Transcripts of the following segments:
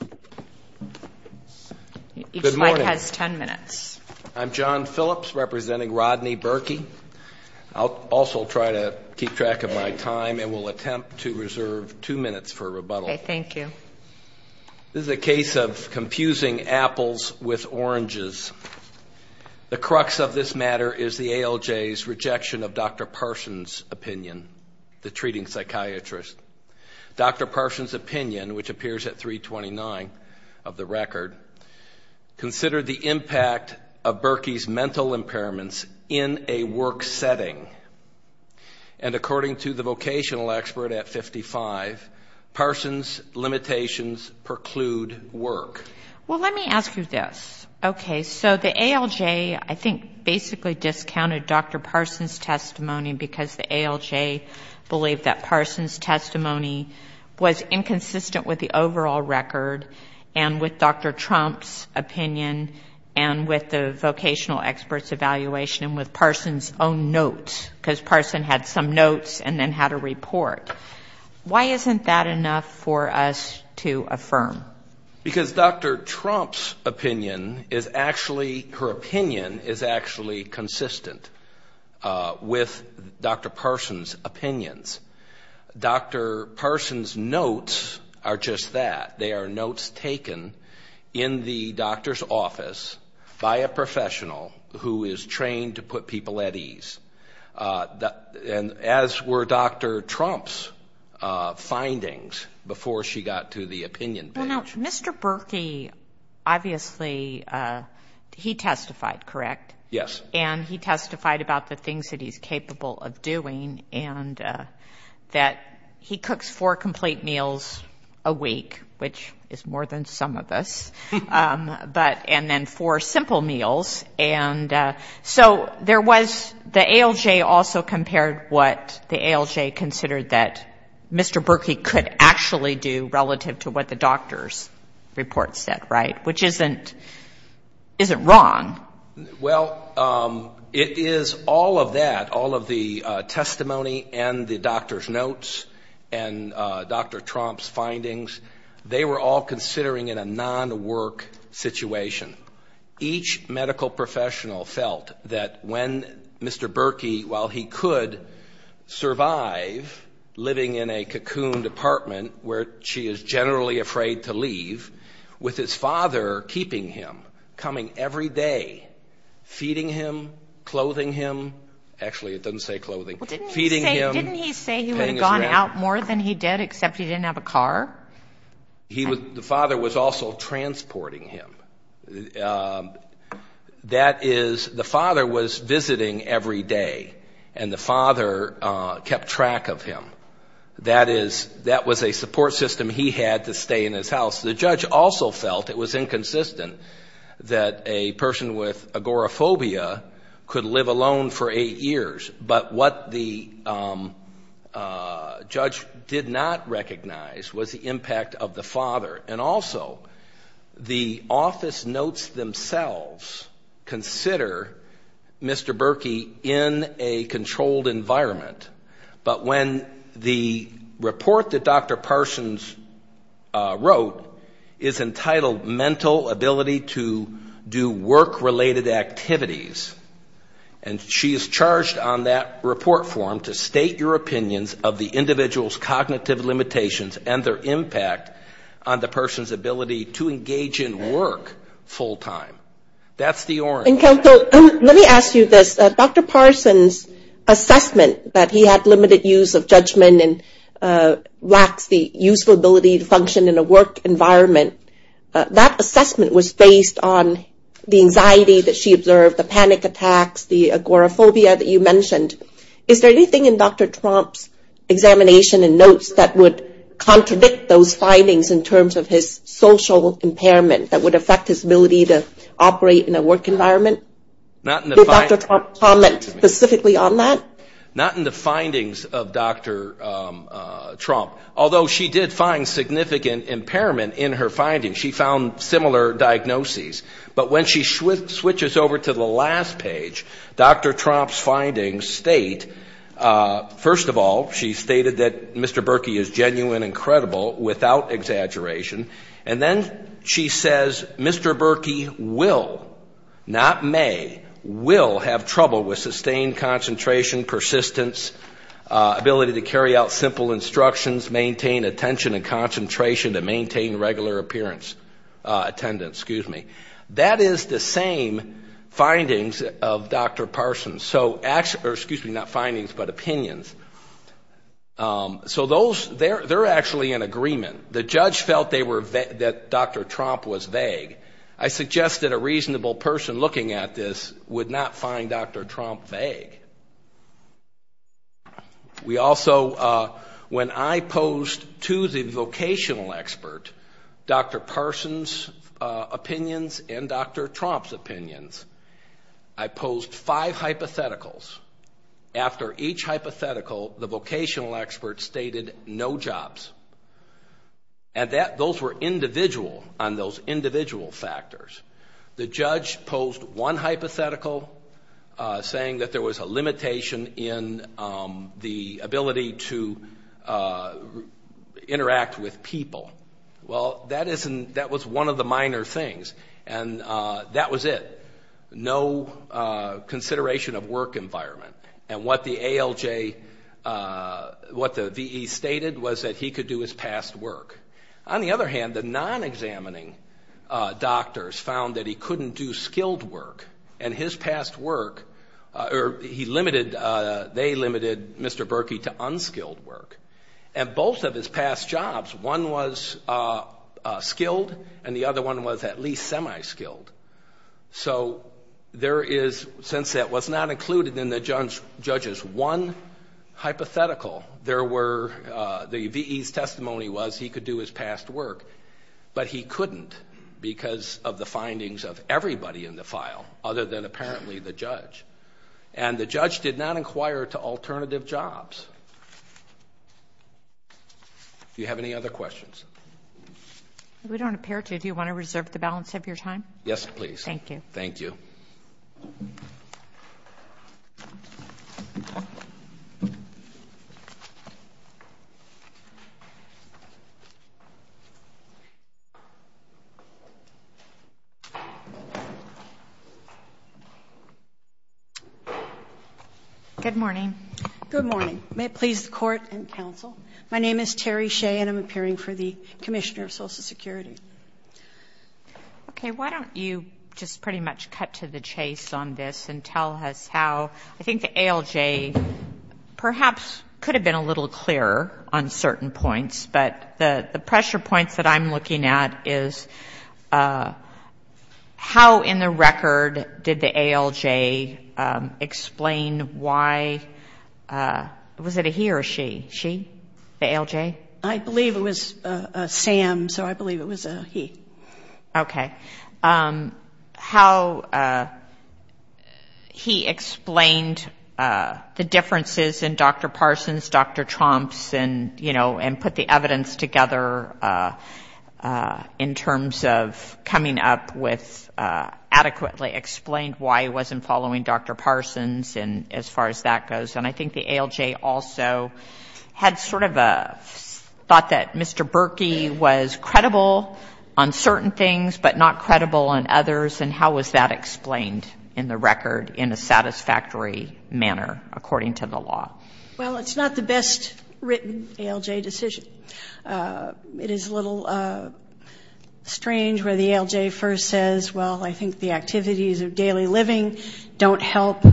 This is a case of confusing apples with oranges. The crux of this matter is the ALJ's rejection of Dr. Parson's opinion, the treating psychiatrist. Dr. Parson's opinion, which appears at 329 of the record, considered the impact of Burky's mental impairments in a work setting. And according to the vocational expert at 55, Parson's limitations preclude work. Well, let me ask you this. Okay, so the ALJ, I think, basically discounted Dr. Parson's testimony because the ALJ believed that Parson's testimony was inconsistent with the overall record and with Dr. Trump's opinion and with the vocational expert's evaluation and with Parson's own notes, because Parson had some notes and then had a report. Why isn't that enough for us to affirm? Because Dr. Trump's opinion is actually, her opinion is actually consistent with Dr. Parson's opinions. Dr. Parson's notes are just that. They are notes taken in the doctor's office by a professional who is trained to put people at ease. And as were Dr. Trump's findings before she got to the opinion page. Well, now, Mr. Burky, obviously, he testified, correct? Yes. And he testified about the things that he's capable of doing and that he cooks four complete meals a week, which is more than some of us, but and then four simple meals. And so there was, the ALJ also compared what the ALJ considered that Mr. Burky could actually do relative to what the doctor's report said, right? Which isn't, isn't wrong. Well, it is all of that, all of the testimony and the doctor's notes and Dr. Trump's findings, they were all considering in a non-work situation. Each medical professional felt that when a Mr. Burky, while he could survive living in a cocooned apartment where she is generally afraid to leave, with his father keeping him, coming every day, feeding him, clothing him, actually it doesn't say clothing, feeding him, paying his rent. Didn't he say he would have gone out more than he did, except he didn't have a car? He would, the father was also transporting him. That is, the father was visiting every day and the father kept track of him. That is, that was a support system he had to stay in his house. The judge also felt it was inconsistent that a person with agoraphobia could live alone for eight years, but what the judge did not recognize was the impact of the father. And also, the office notes themselves consider Mr. Burky in a controlled environment, but when the report that Dr. Parsons wrote is entitled, Mental Ability to Do Work-Related Activities, and she is charged on that report form to state your opinions of the individual's cognitive limitations and their impact on the person's ability to engage in work full-time. That's the orange. And counsel, let me ask you this. Dr. Parsons' assessment that he had limited use of judgment and lacks the useful ability to function in a work environment, that assessment was based on the anxiety that she observed, the panic attacks, the agoraphobia that you mentioned. Is there anything in Dr. Trump's examination and notes that would contradict those findings in terms of his social impairment that would affect his ability to operate in a work environment? Did Dr. Trump comment specifically on that? Not in the findings of Dr. Trump, although she did find significant impairment in her diagnoses. But when she switches over to the last page, Dr. Trump's findings state, first of all, she stated that Mr. Burky is genuine and credible without exaggeration, and then she says Mr. Burky will, not may, will have trouble with sustained concentration, persistence, ability to carry out simple instructions, maintain attention and concentration, and maintain regular appearance, attendance, excuse me. That is the same findings of Dr. Parsons. So, excuse me, not findings, but opinions. So those, they're actually in agreement. The judge felt that Dr. Trump was vague. I suggest that a reasonable person looking at this would not find Dr. Trump vague. We also, when I posed to the vocational expert Dr. Parsons' opinions and Dr. Trump's opinions, I posed five hypotheticals. After each hypothetical, the vocational expert stated no jobs. And those were individual, on those individual factors. The judge posed one hypothetical, saying that there was a limitation in the ability to interact with people. Well, that isn't, that was one of the minor things. And that was it. No consideration of work environment. And what the ALJ, what the VE stated was that he could do his past work. On the other hand, the non-examining doctors found that he couldn't do skilled work. And his past work, he limited, they limited Mr. Berkey to unskilled work. And both of his past jobs, one was skilled and the other one was at least semi-skilled. So there is, since that was not included in the judge's one hypothetical, there were, the VE's testimony was he could do his past work, but he couldn't because of the findings of everybody in the file other than apparently the judge. And the judge did not inquire to alternative jobs. Do you have any other questions? If we don't appear to, do you want to reserve the balance of your time? Yes, please. Thank you. Thank you. Good morning. Good morning. May it please the Court and counsel, my name is Terri Shea and I'm appearing for the Commissioner of Social Security. Okay. Why don't you just pretty much cut to the chase on this and tell us how, I think the ALJ perhaps could have been a little clearer on certain points, but the pressure points that I'm looking at is how in the record did the ALJ explain why, was it a he or a she? She? The ALJ? I believe it was a Sam, so I believe it was a he. Okay. How he explained the differences in Dr. Parsons, Dr. Tromps and, you know, and put the evidence together in terms of coming up with adequately explained why he wasn't following Dr. Parsons and as far as that goes. And I think the ALJ also had sort of a thought that Mr. Berkey was credible on certain things, but not credible on others and how was that explained in the record in a satisfactory manner according to the law? Well, it's not the best written ALJ decision. It is a little strange where the ALJ first says, well, I think the activities of daily living don't help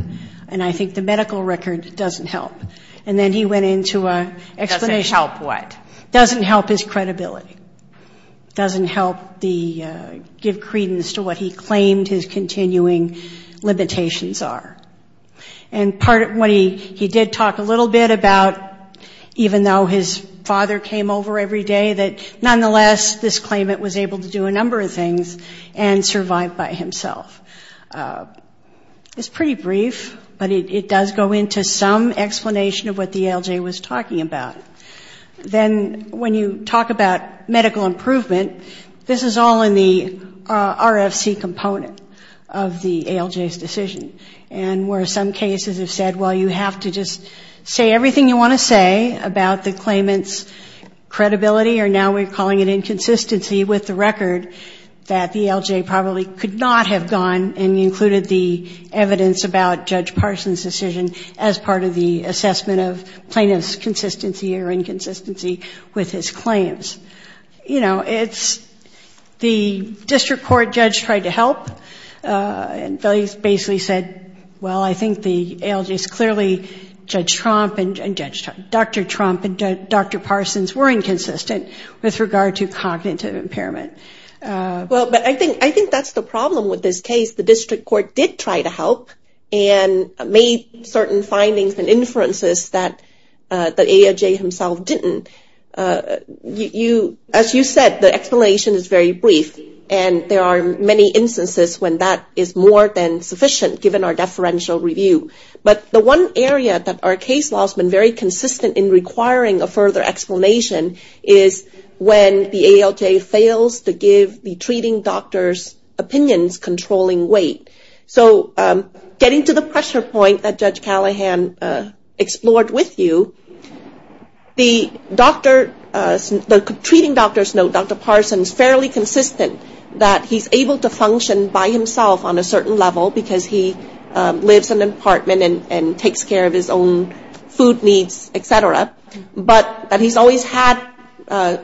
and I think the medical record doesn't help. And then he went into an explanation. Doesn't help what? Doesn't help his credibility. Doesn't help the, give credence to what he claimed his continuing limitations are. And part of what he did talk a little bit about, even though his father came over every day, that nonetheless this claimant was able to do a number of things and survive by himself. It's pretty brief, but it does go into some explanation of what then when you talk about medical improvement, this is all in the RFC component of the ALJ's decision. And where some cases have said, well, you have to just say everything you want to say about the claimant's credibility or now we're calling it inconsistency with the record that the ALJ probably could not have gone and included the evidence about Judge Parson's decision as part of the assessment of plaintiff's consistency or inconsistency with his claims. You know, it's the district court judge tried to help and basically said, well, I think the ALJ's clearly, Judge Trump and Judge, Dr. Trump and Dr. Parsons were inconsistent with regard to cognitive impairment. Well, but I think that's the problem with this case. The district court did try to help and made certain findings and inferences that the ALJ himself didn't. As you said, the explanation is very brief and there are many instances when that is more than sufficient given our deferential review. But the one area that our case law has been very consistent in requiring a further explanation is when the ALJ fails to give the treating doctor's opinions controlling weight. So getting to the pressure point that Judge Callahan explored with you, the treating doctor's note, Dr. Parsons, fairly consistent that he's able to function by himself on a certain level because he lives in an apartment and takes care of his own food needs, et cetera, but that he's always had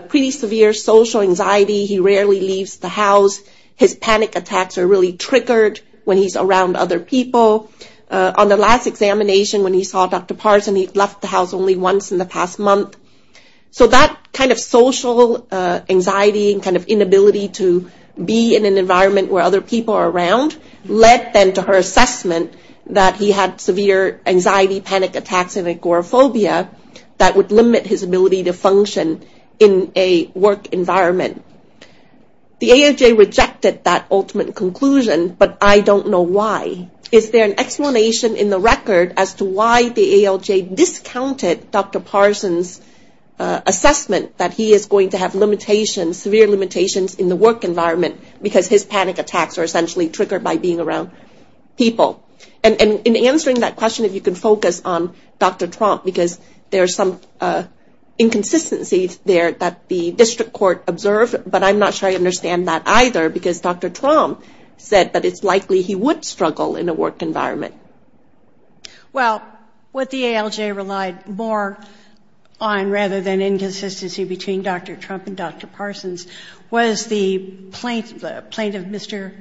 pretty severe social anxiety. He rarely leaves the house. His panic attacks are really triggered when he's around other people. On the last examination when he saw Dr. Parsons, he left the house only once in the past month. So that kind of social anxiety and kind of inability to be in an environment where other people are around led then to her assessment that he had severe anxiety, panic attacks, and agoraphobia that would limit his ability to function in a work environment. The ALJ rejected that ultimate conclusion, but I don't know why. Is there an explanation in the record as to why the ALJ discounted Dr. Parsons' assessment that he is going to have limitations, severe limitations, in the work environment because his panic attacks are essentially triggered by being around people? And in answering that question, if you could focus on Dr. Trump, because there's some inconsistencies there that the district court observed, but I'm not sure I understand that either because Dr. Trump said that it's likely he would struggle in a work environment. Well, what the ALJ relied more on rather than inconsistency between Dr. Trump and Dr. Parsons was the plaintiff, Mr.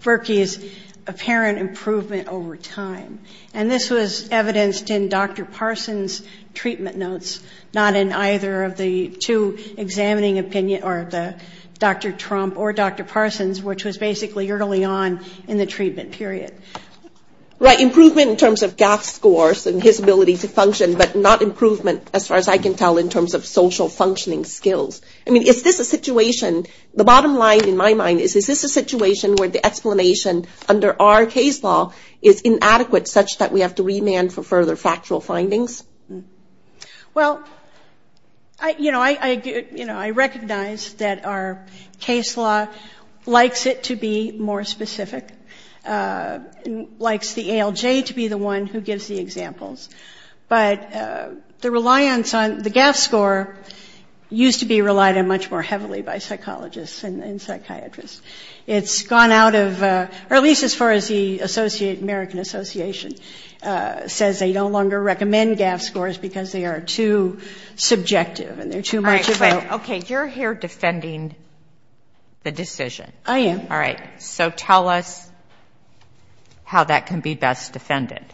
Berkey's apparent improvement over time. And this was evidenced in Dr. Parsons' treatment notes, not in either of the two examining opinion or the Dr. Trump or Dr. Parsons, which was basically early on in the treatment period. Right, improvement in terms of GAF scores and his ability to function, but not improvement as far as I can tell in terms of social functioning skills. I mean, is this a situation, the bottom line in my mind is, is this a situation where the explanation under our case law is inadequate such that we have to remand for further factual findings? Well, you know, I recognize that our case law likes it to be more specific, likes the ALJ to be the one who gives the examples, but the reliance on the GAF score used to be relied on much more heavily by psychologists and psychiatrists. It's gone out of, or at least the American Association says they no longer recommend GAF scores because they are too subjective and they're too much of a- All right, but, okay, you're here defending the decision. I am. All right. So tell us how that can be best defended.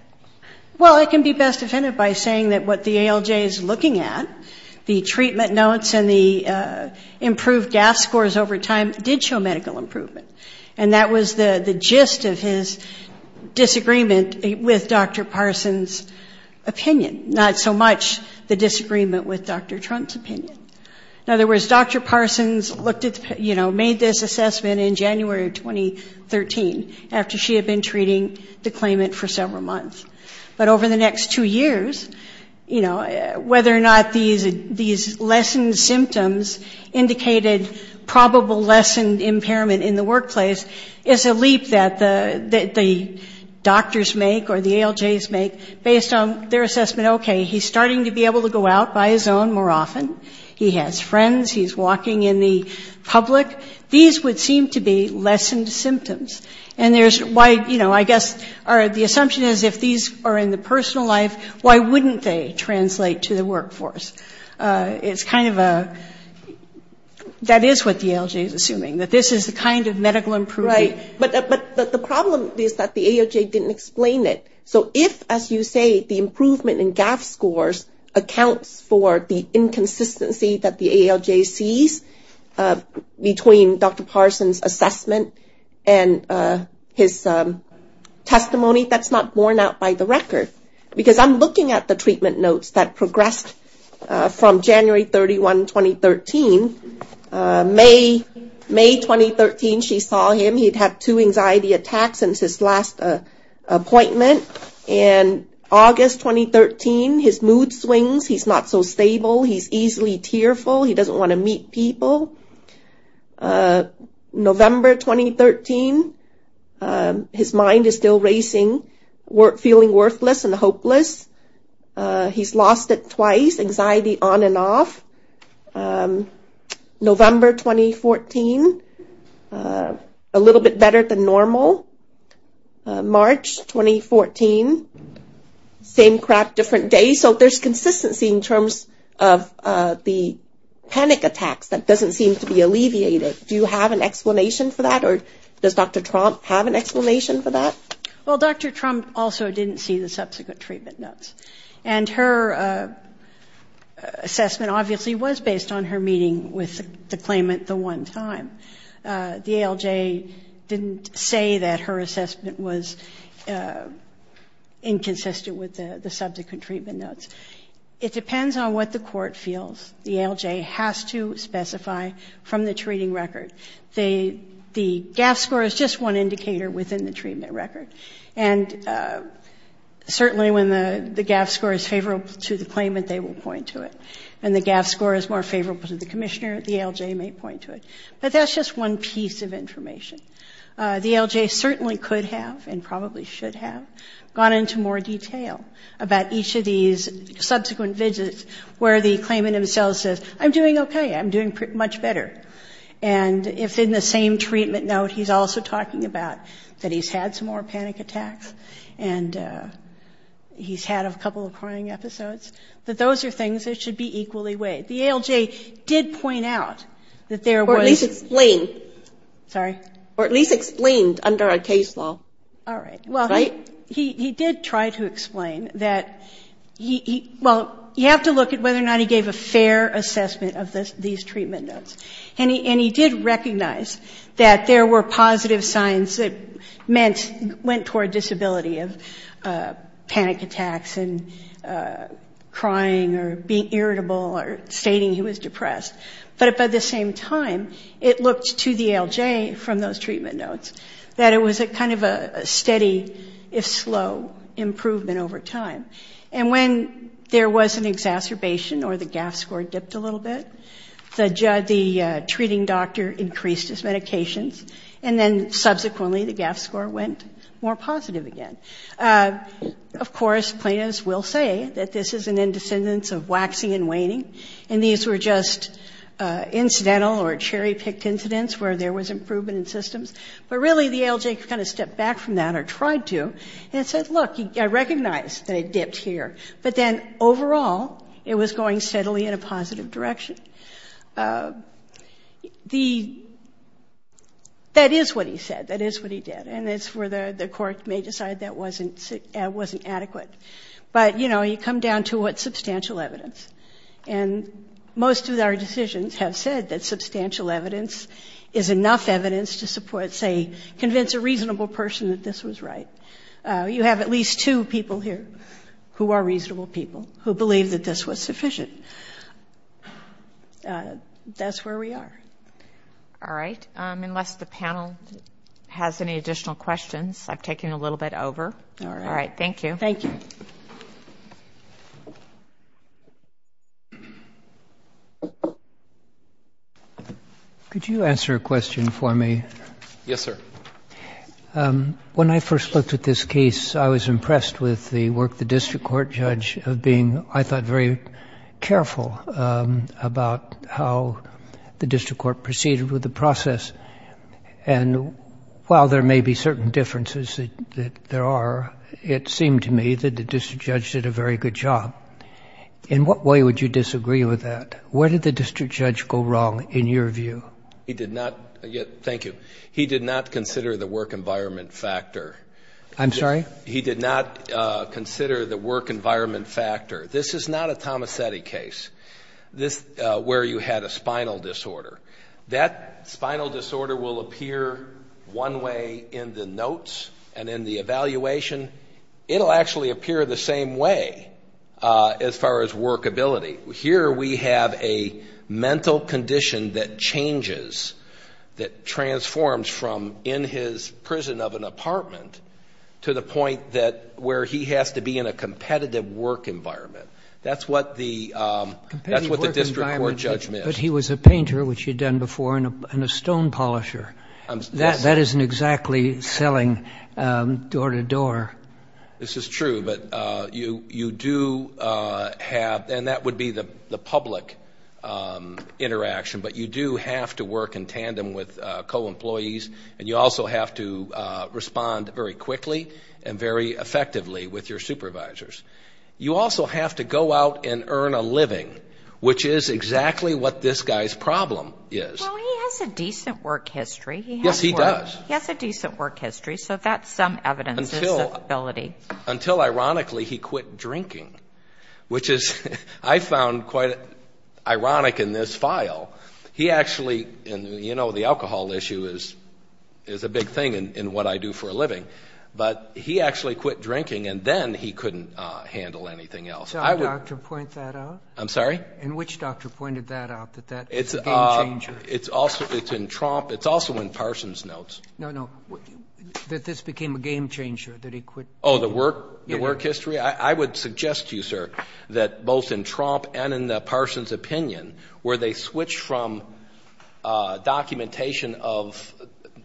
Well, it can be best defended by saying that what the ALJ is looking at, the treatment notes and the improved GAF scores over time did show medical improvement. And that was the gist of his disagreement with Dr. Parsons' opinion, not so much the disagreement with Dr. Trump's opinion. In other words, Dr. Parsons looked at, you know, made this assessment in January of 2013 after she had been treating the claimant for several months. But over the next two years, you know, whether or not these lessened symptoms indicated probable lessened impairment in the workplace is a leap that the doctors make or the ALJs make based on their assessment. Okay, he's starting to be able to go out by his own more often. He has friends. He's walking in the public. These would seem to be lessened symptoms. And there's why, you know, I guess the assumption is if these are in the personal life, why wouldn't they translate to the workforce? It's kind of a, that is what the ALJ is assuming, that this is the kind of medical improvement. Right. But the problem is that the ALJ didn't explain it. So if, as you say, the improvement in GAF scores accounts for the inconsistency that the ALJ sees between Dr. Parsons' assessment and his testimony, that's not borne out by the record. Because I'm looking at the treatment notes that progressed from January 31, 2013. May 2013, she saw him. He'd had two anxiety attacks since his last appointment. And August 2013, his mood swings. He's not so stable. He's easily tearful. He doesn't want to meet people. November 2013, his mind is still racing, feeling worthless and hopeless. He's lost it twice, anxiety on and off. November 2014, a little bit better than normal. March 2014, same crap, different day. So there's consistency in terms of the panic attacks that doesn't seem to be alleviated. Do you have an explanation for that? Or does Dr. Trump have an explanation for that? Well, Dr. Trump also didn't see the subsequent treatment notes. And her assessment obviously was based on her meeting with the claimant the one time. The ALJ didn't say that her court feels the ALJ has to specify from the treating record. The GAF score is just one indicator within the treatment record. And certainly when the GAF score is favorable to the claimant, they will point to it. When the GAF score is more favorable to the Commissioner, the ALJ may point to it. But that's just one piece of information. The ALJ certainly could have and probably should have gone into more detail about each of these subsequent visits where the claimant himself says, I'm doing okay. I'm doing much better. And if in the same treatment note, he's also talking about that he's had some more panic attacks and he's had a couple of crying episodes, that those are things that should be equally weighed. The ALJ did point out that there was... Or at least explained. Sorry? Or at least explained under a case law. All right. Well, he did try to explain that, well, you have to look at whether or not he gave a fair assessment of these treatment notes. And he did recognize that there were positive signs that meant, went toward disability of panic attacks and crying or being irritable or stating he was depressed. But at the same time, it looked to the ALJ from those treatment notes that it was a kind of a steady, if slow, improvement over time. And when there was an exacerbation or the GAF score dipped a little bit, the treating doctor increased his medications. And then subsequently, the GAF score went more positive again. Of course, plaintiffs will say that this is an indescendence of waxing and waning. And these were just incidental or cherry-picked incidents where there was improvement in systems. But really, the ALJ kind of stepped back from that or tried to and said, look, I recognize that it dipped here. But then overall, it was going steadily in a positive direction. That is what he said. That is what he did. And it's where the court may decide that wasn't adequate. But, you know, you come down to what's substantial evidence. And most of our decisions have said that substantial evidence is enough evidence to support, say, convince a reasonable person that this was right. You have at least two people here who are reasonable people who believe that this was sufficient. That's where we are. All right. Unless the panel has any additional questions, I've taken a little bit over. All right. Thank you. Thank you. Could you answer a question for me? Yes, sir. When I first looked at this case, I was impressed with the work of the district court judge of being, I thought, very careful about how the district court proceeded with the process. And while there may be certain differences that there are, it seemed to me that the district judge did a very good job. In what way would you disagree with that? Where did the district judge go wrong in your view? He did not. Thank you. He did not consider the work environment factor. I'm sorry? He did not consider the work environment factor. This is not a Tomasetti case where you had a spinal disorder. That spinal disorder will appear one way in the notes and in the evaluation. It'll actually appear the same way as far as workability. Here we have a mental condition that changes, that transforms from in his prison of an apartment to the point that where he has to be in a competitive work environment. That's what the district court judge missed. But he was a painter, which you'd done before, and a stone polisher. That isn't exactly selling door to door. This is true, but you do have, and that would be the public interaction, but you do have to work in tandem with co-employees, and you also have to respond very quickly and very effectively with your supervisors. You also have to go out and earn a living, which is exactly what this guy's problem is. Well, he has a decent work history. Yes, he does. He has a decent work history, so that's some evidence of his ability. Until ironically, he quit drinking, which I found quite ironic in this file. He actually, you know, the alcohol issue is a big thing in what I do for a living, but he actually quit drinking, and then he couldn't handle anything else. Can you point that out? I'm sorry? In which doctor pointed that out, that that was a game changer? It's also in Trump. It's also in Parsons' notes. No, no, that this became a game changer, that he quit. Oh, the work history? I would suggest to you, sir, that both in Trump and in Parsons' opinion, where they switch from documentation of,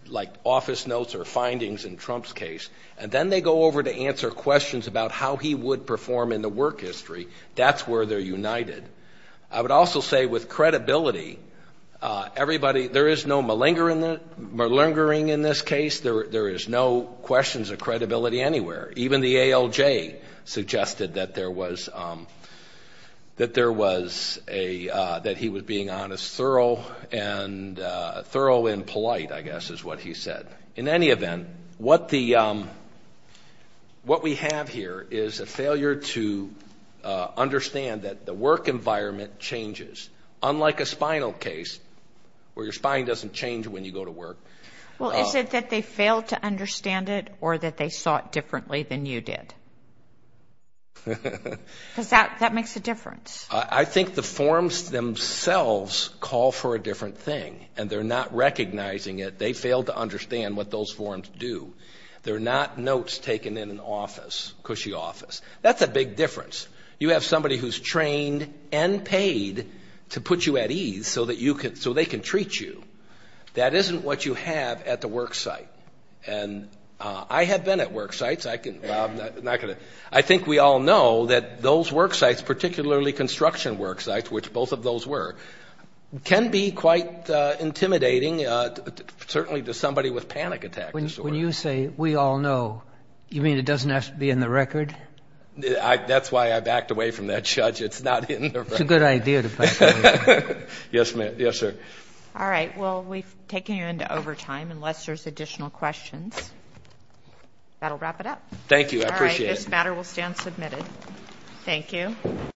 like, office notes or findings in Trump's case, and then they go over to answer questions about how he would perform in the work history. That's where they're united. I would also say with credibility, everybody, there is no malingering in this case. There is no questions of credibility anywhere. Even the ALJ suggested that there was, that there was a, that he was being honest, thorough and, thorough and polite, I guess, is what he said. In any event, what the, what we have here is a failure to understand that the work environment changes, unlike a spinal case, where your spine doesn't change when you go to work. Well, is it that they failed to understand it, or that they saw it differently than you did? Because that, that makes a difference. I think the forms themselves call for a different thing, and they're not recognizing it. They failed to understand what those forms do. They're not notes taken in an office, cushy office. That's a big difference. You have somebody who's trained and paid to put you at ease so that you can, so they can treat you. That isn't what you have at the work site, and I have been at work sites. I can, well, I'm not going to, I think we all know that those work sites, particularly construction work sites, which both of those were, can be quite intimidating, certainly to somebody with panic attack disorder. When you say, we all know, you mean it doesn't have to be in the record? That's why I backed away from that, Judge. It's not in the record. It's a good idea to back away. Yes, ma'am. Yes, sir. All right. Well, we've taken you into overtime, unless there's additional questions. That'll wrap it up. Thank you. I appreciate it. All right. This matter will stand submitted. Thank you.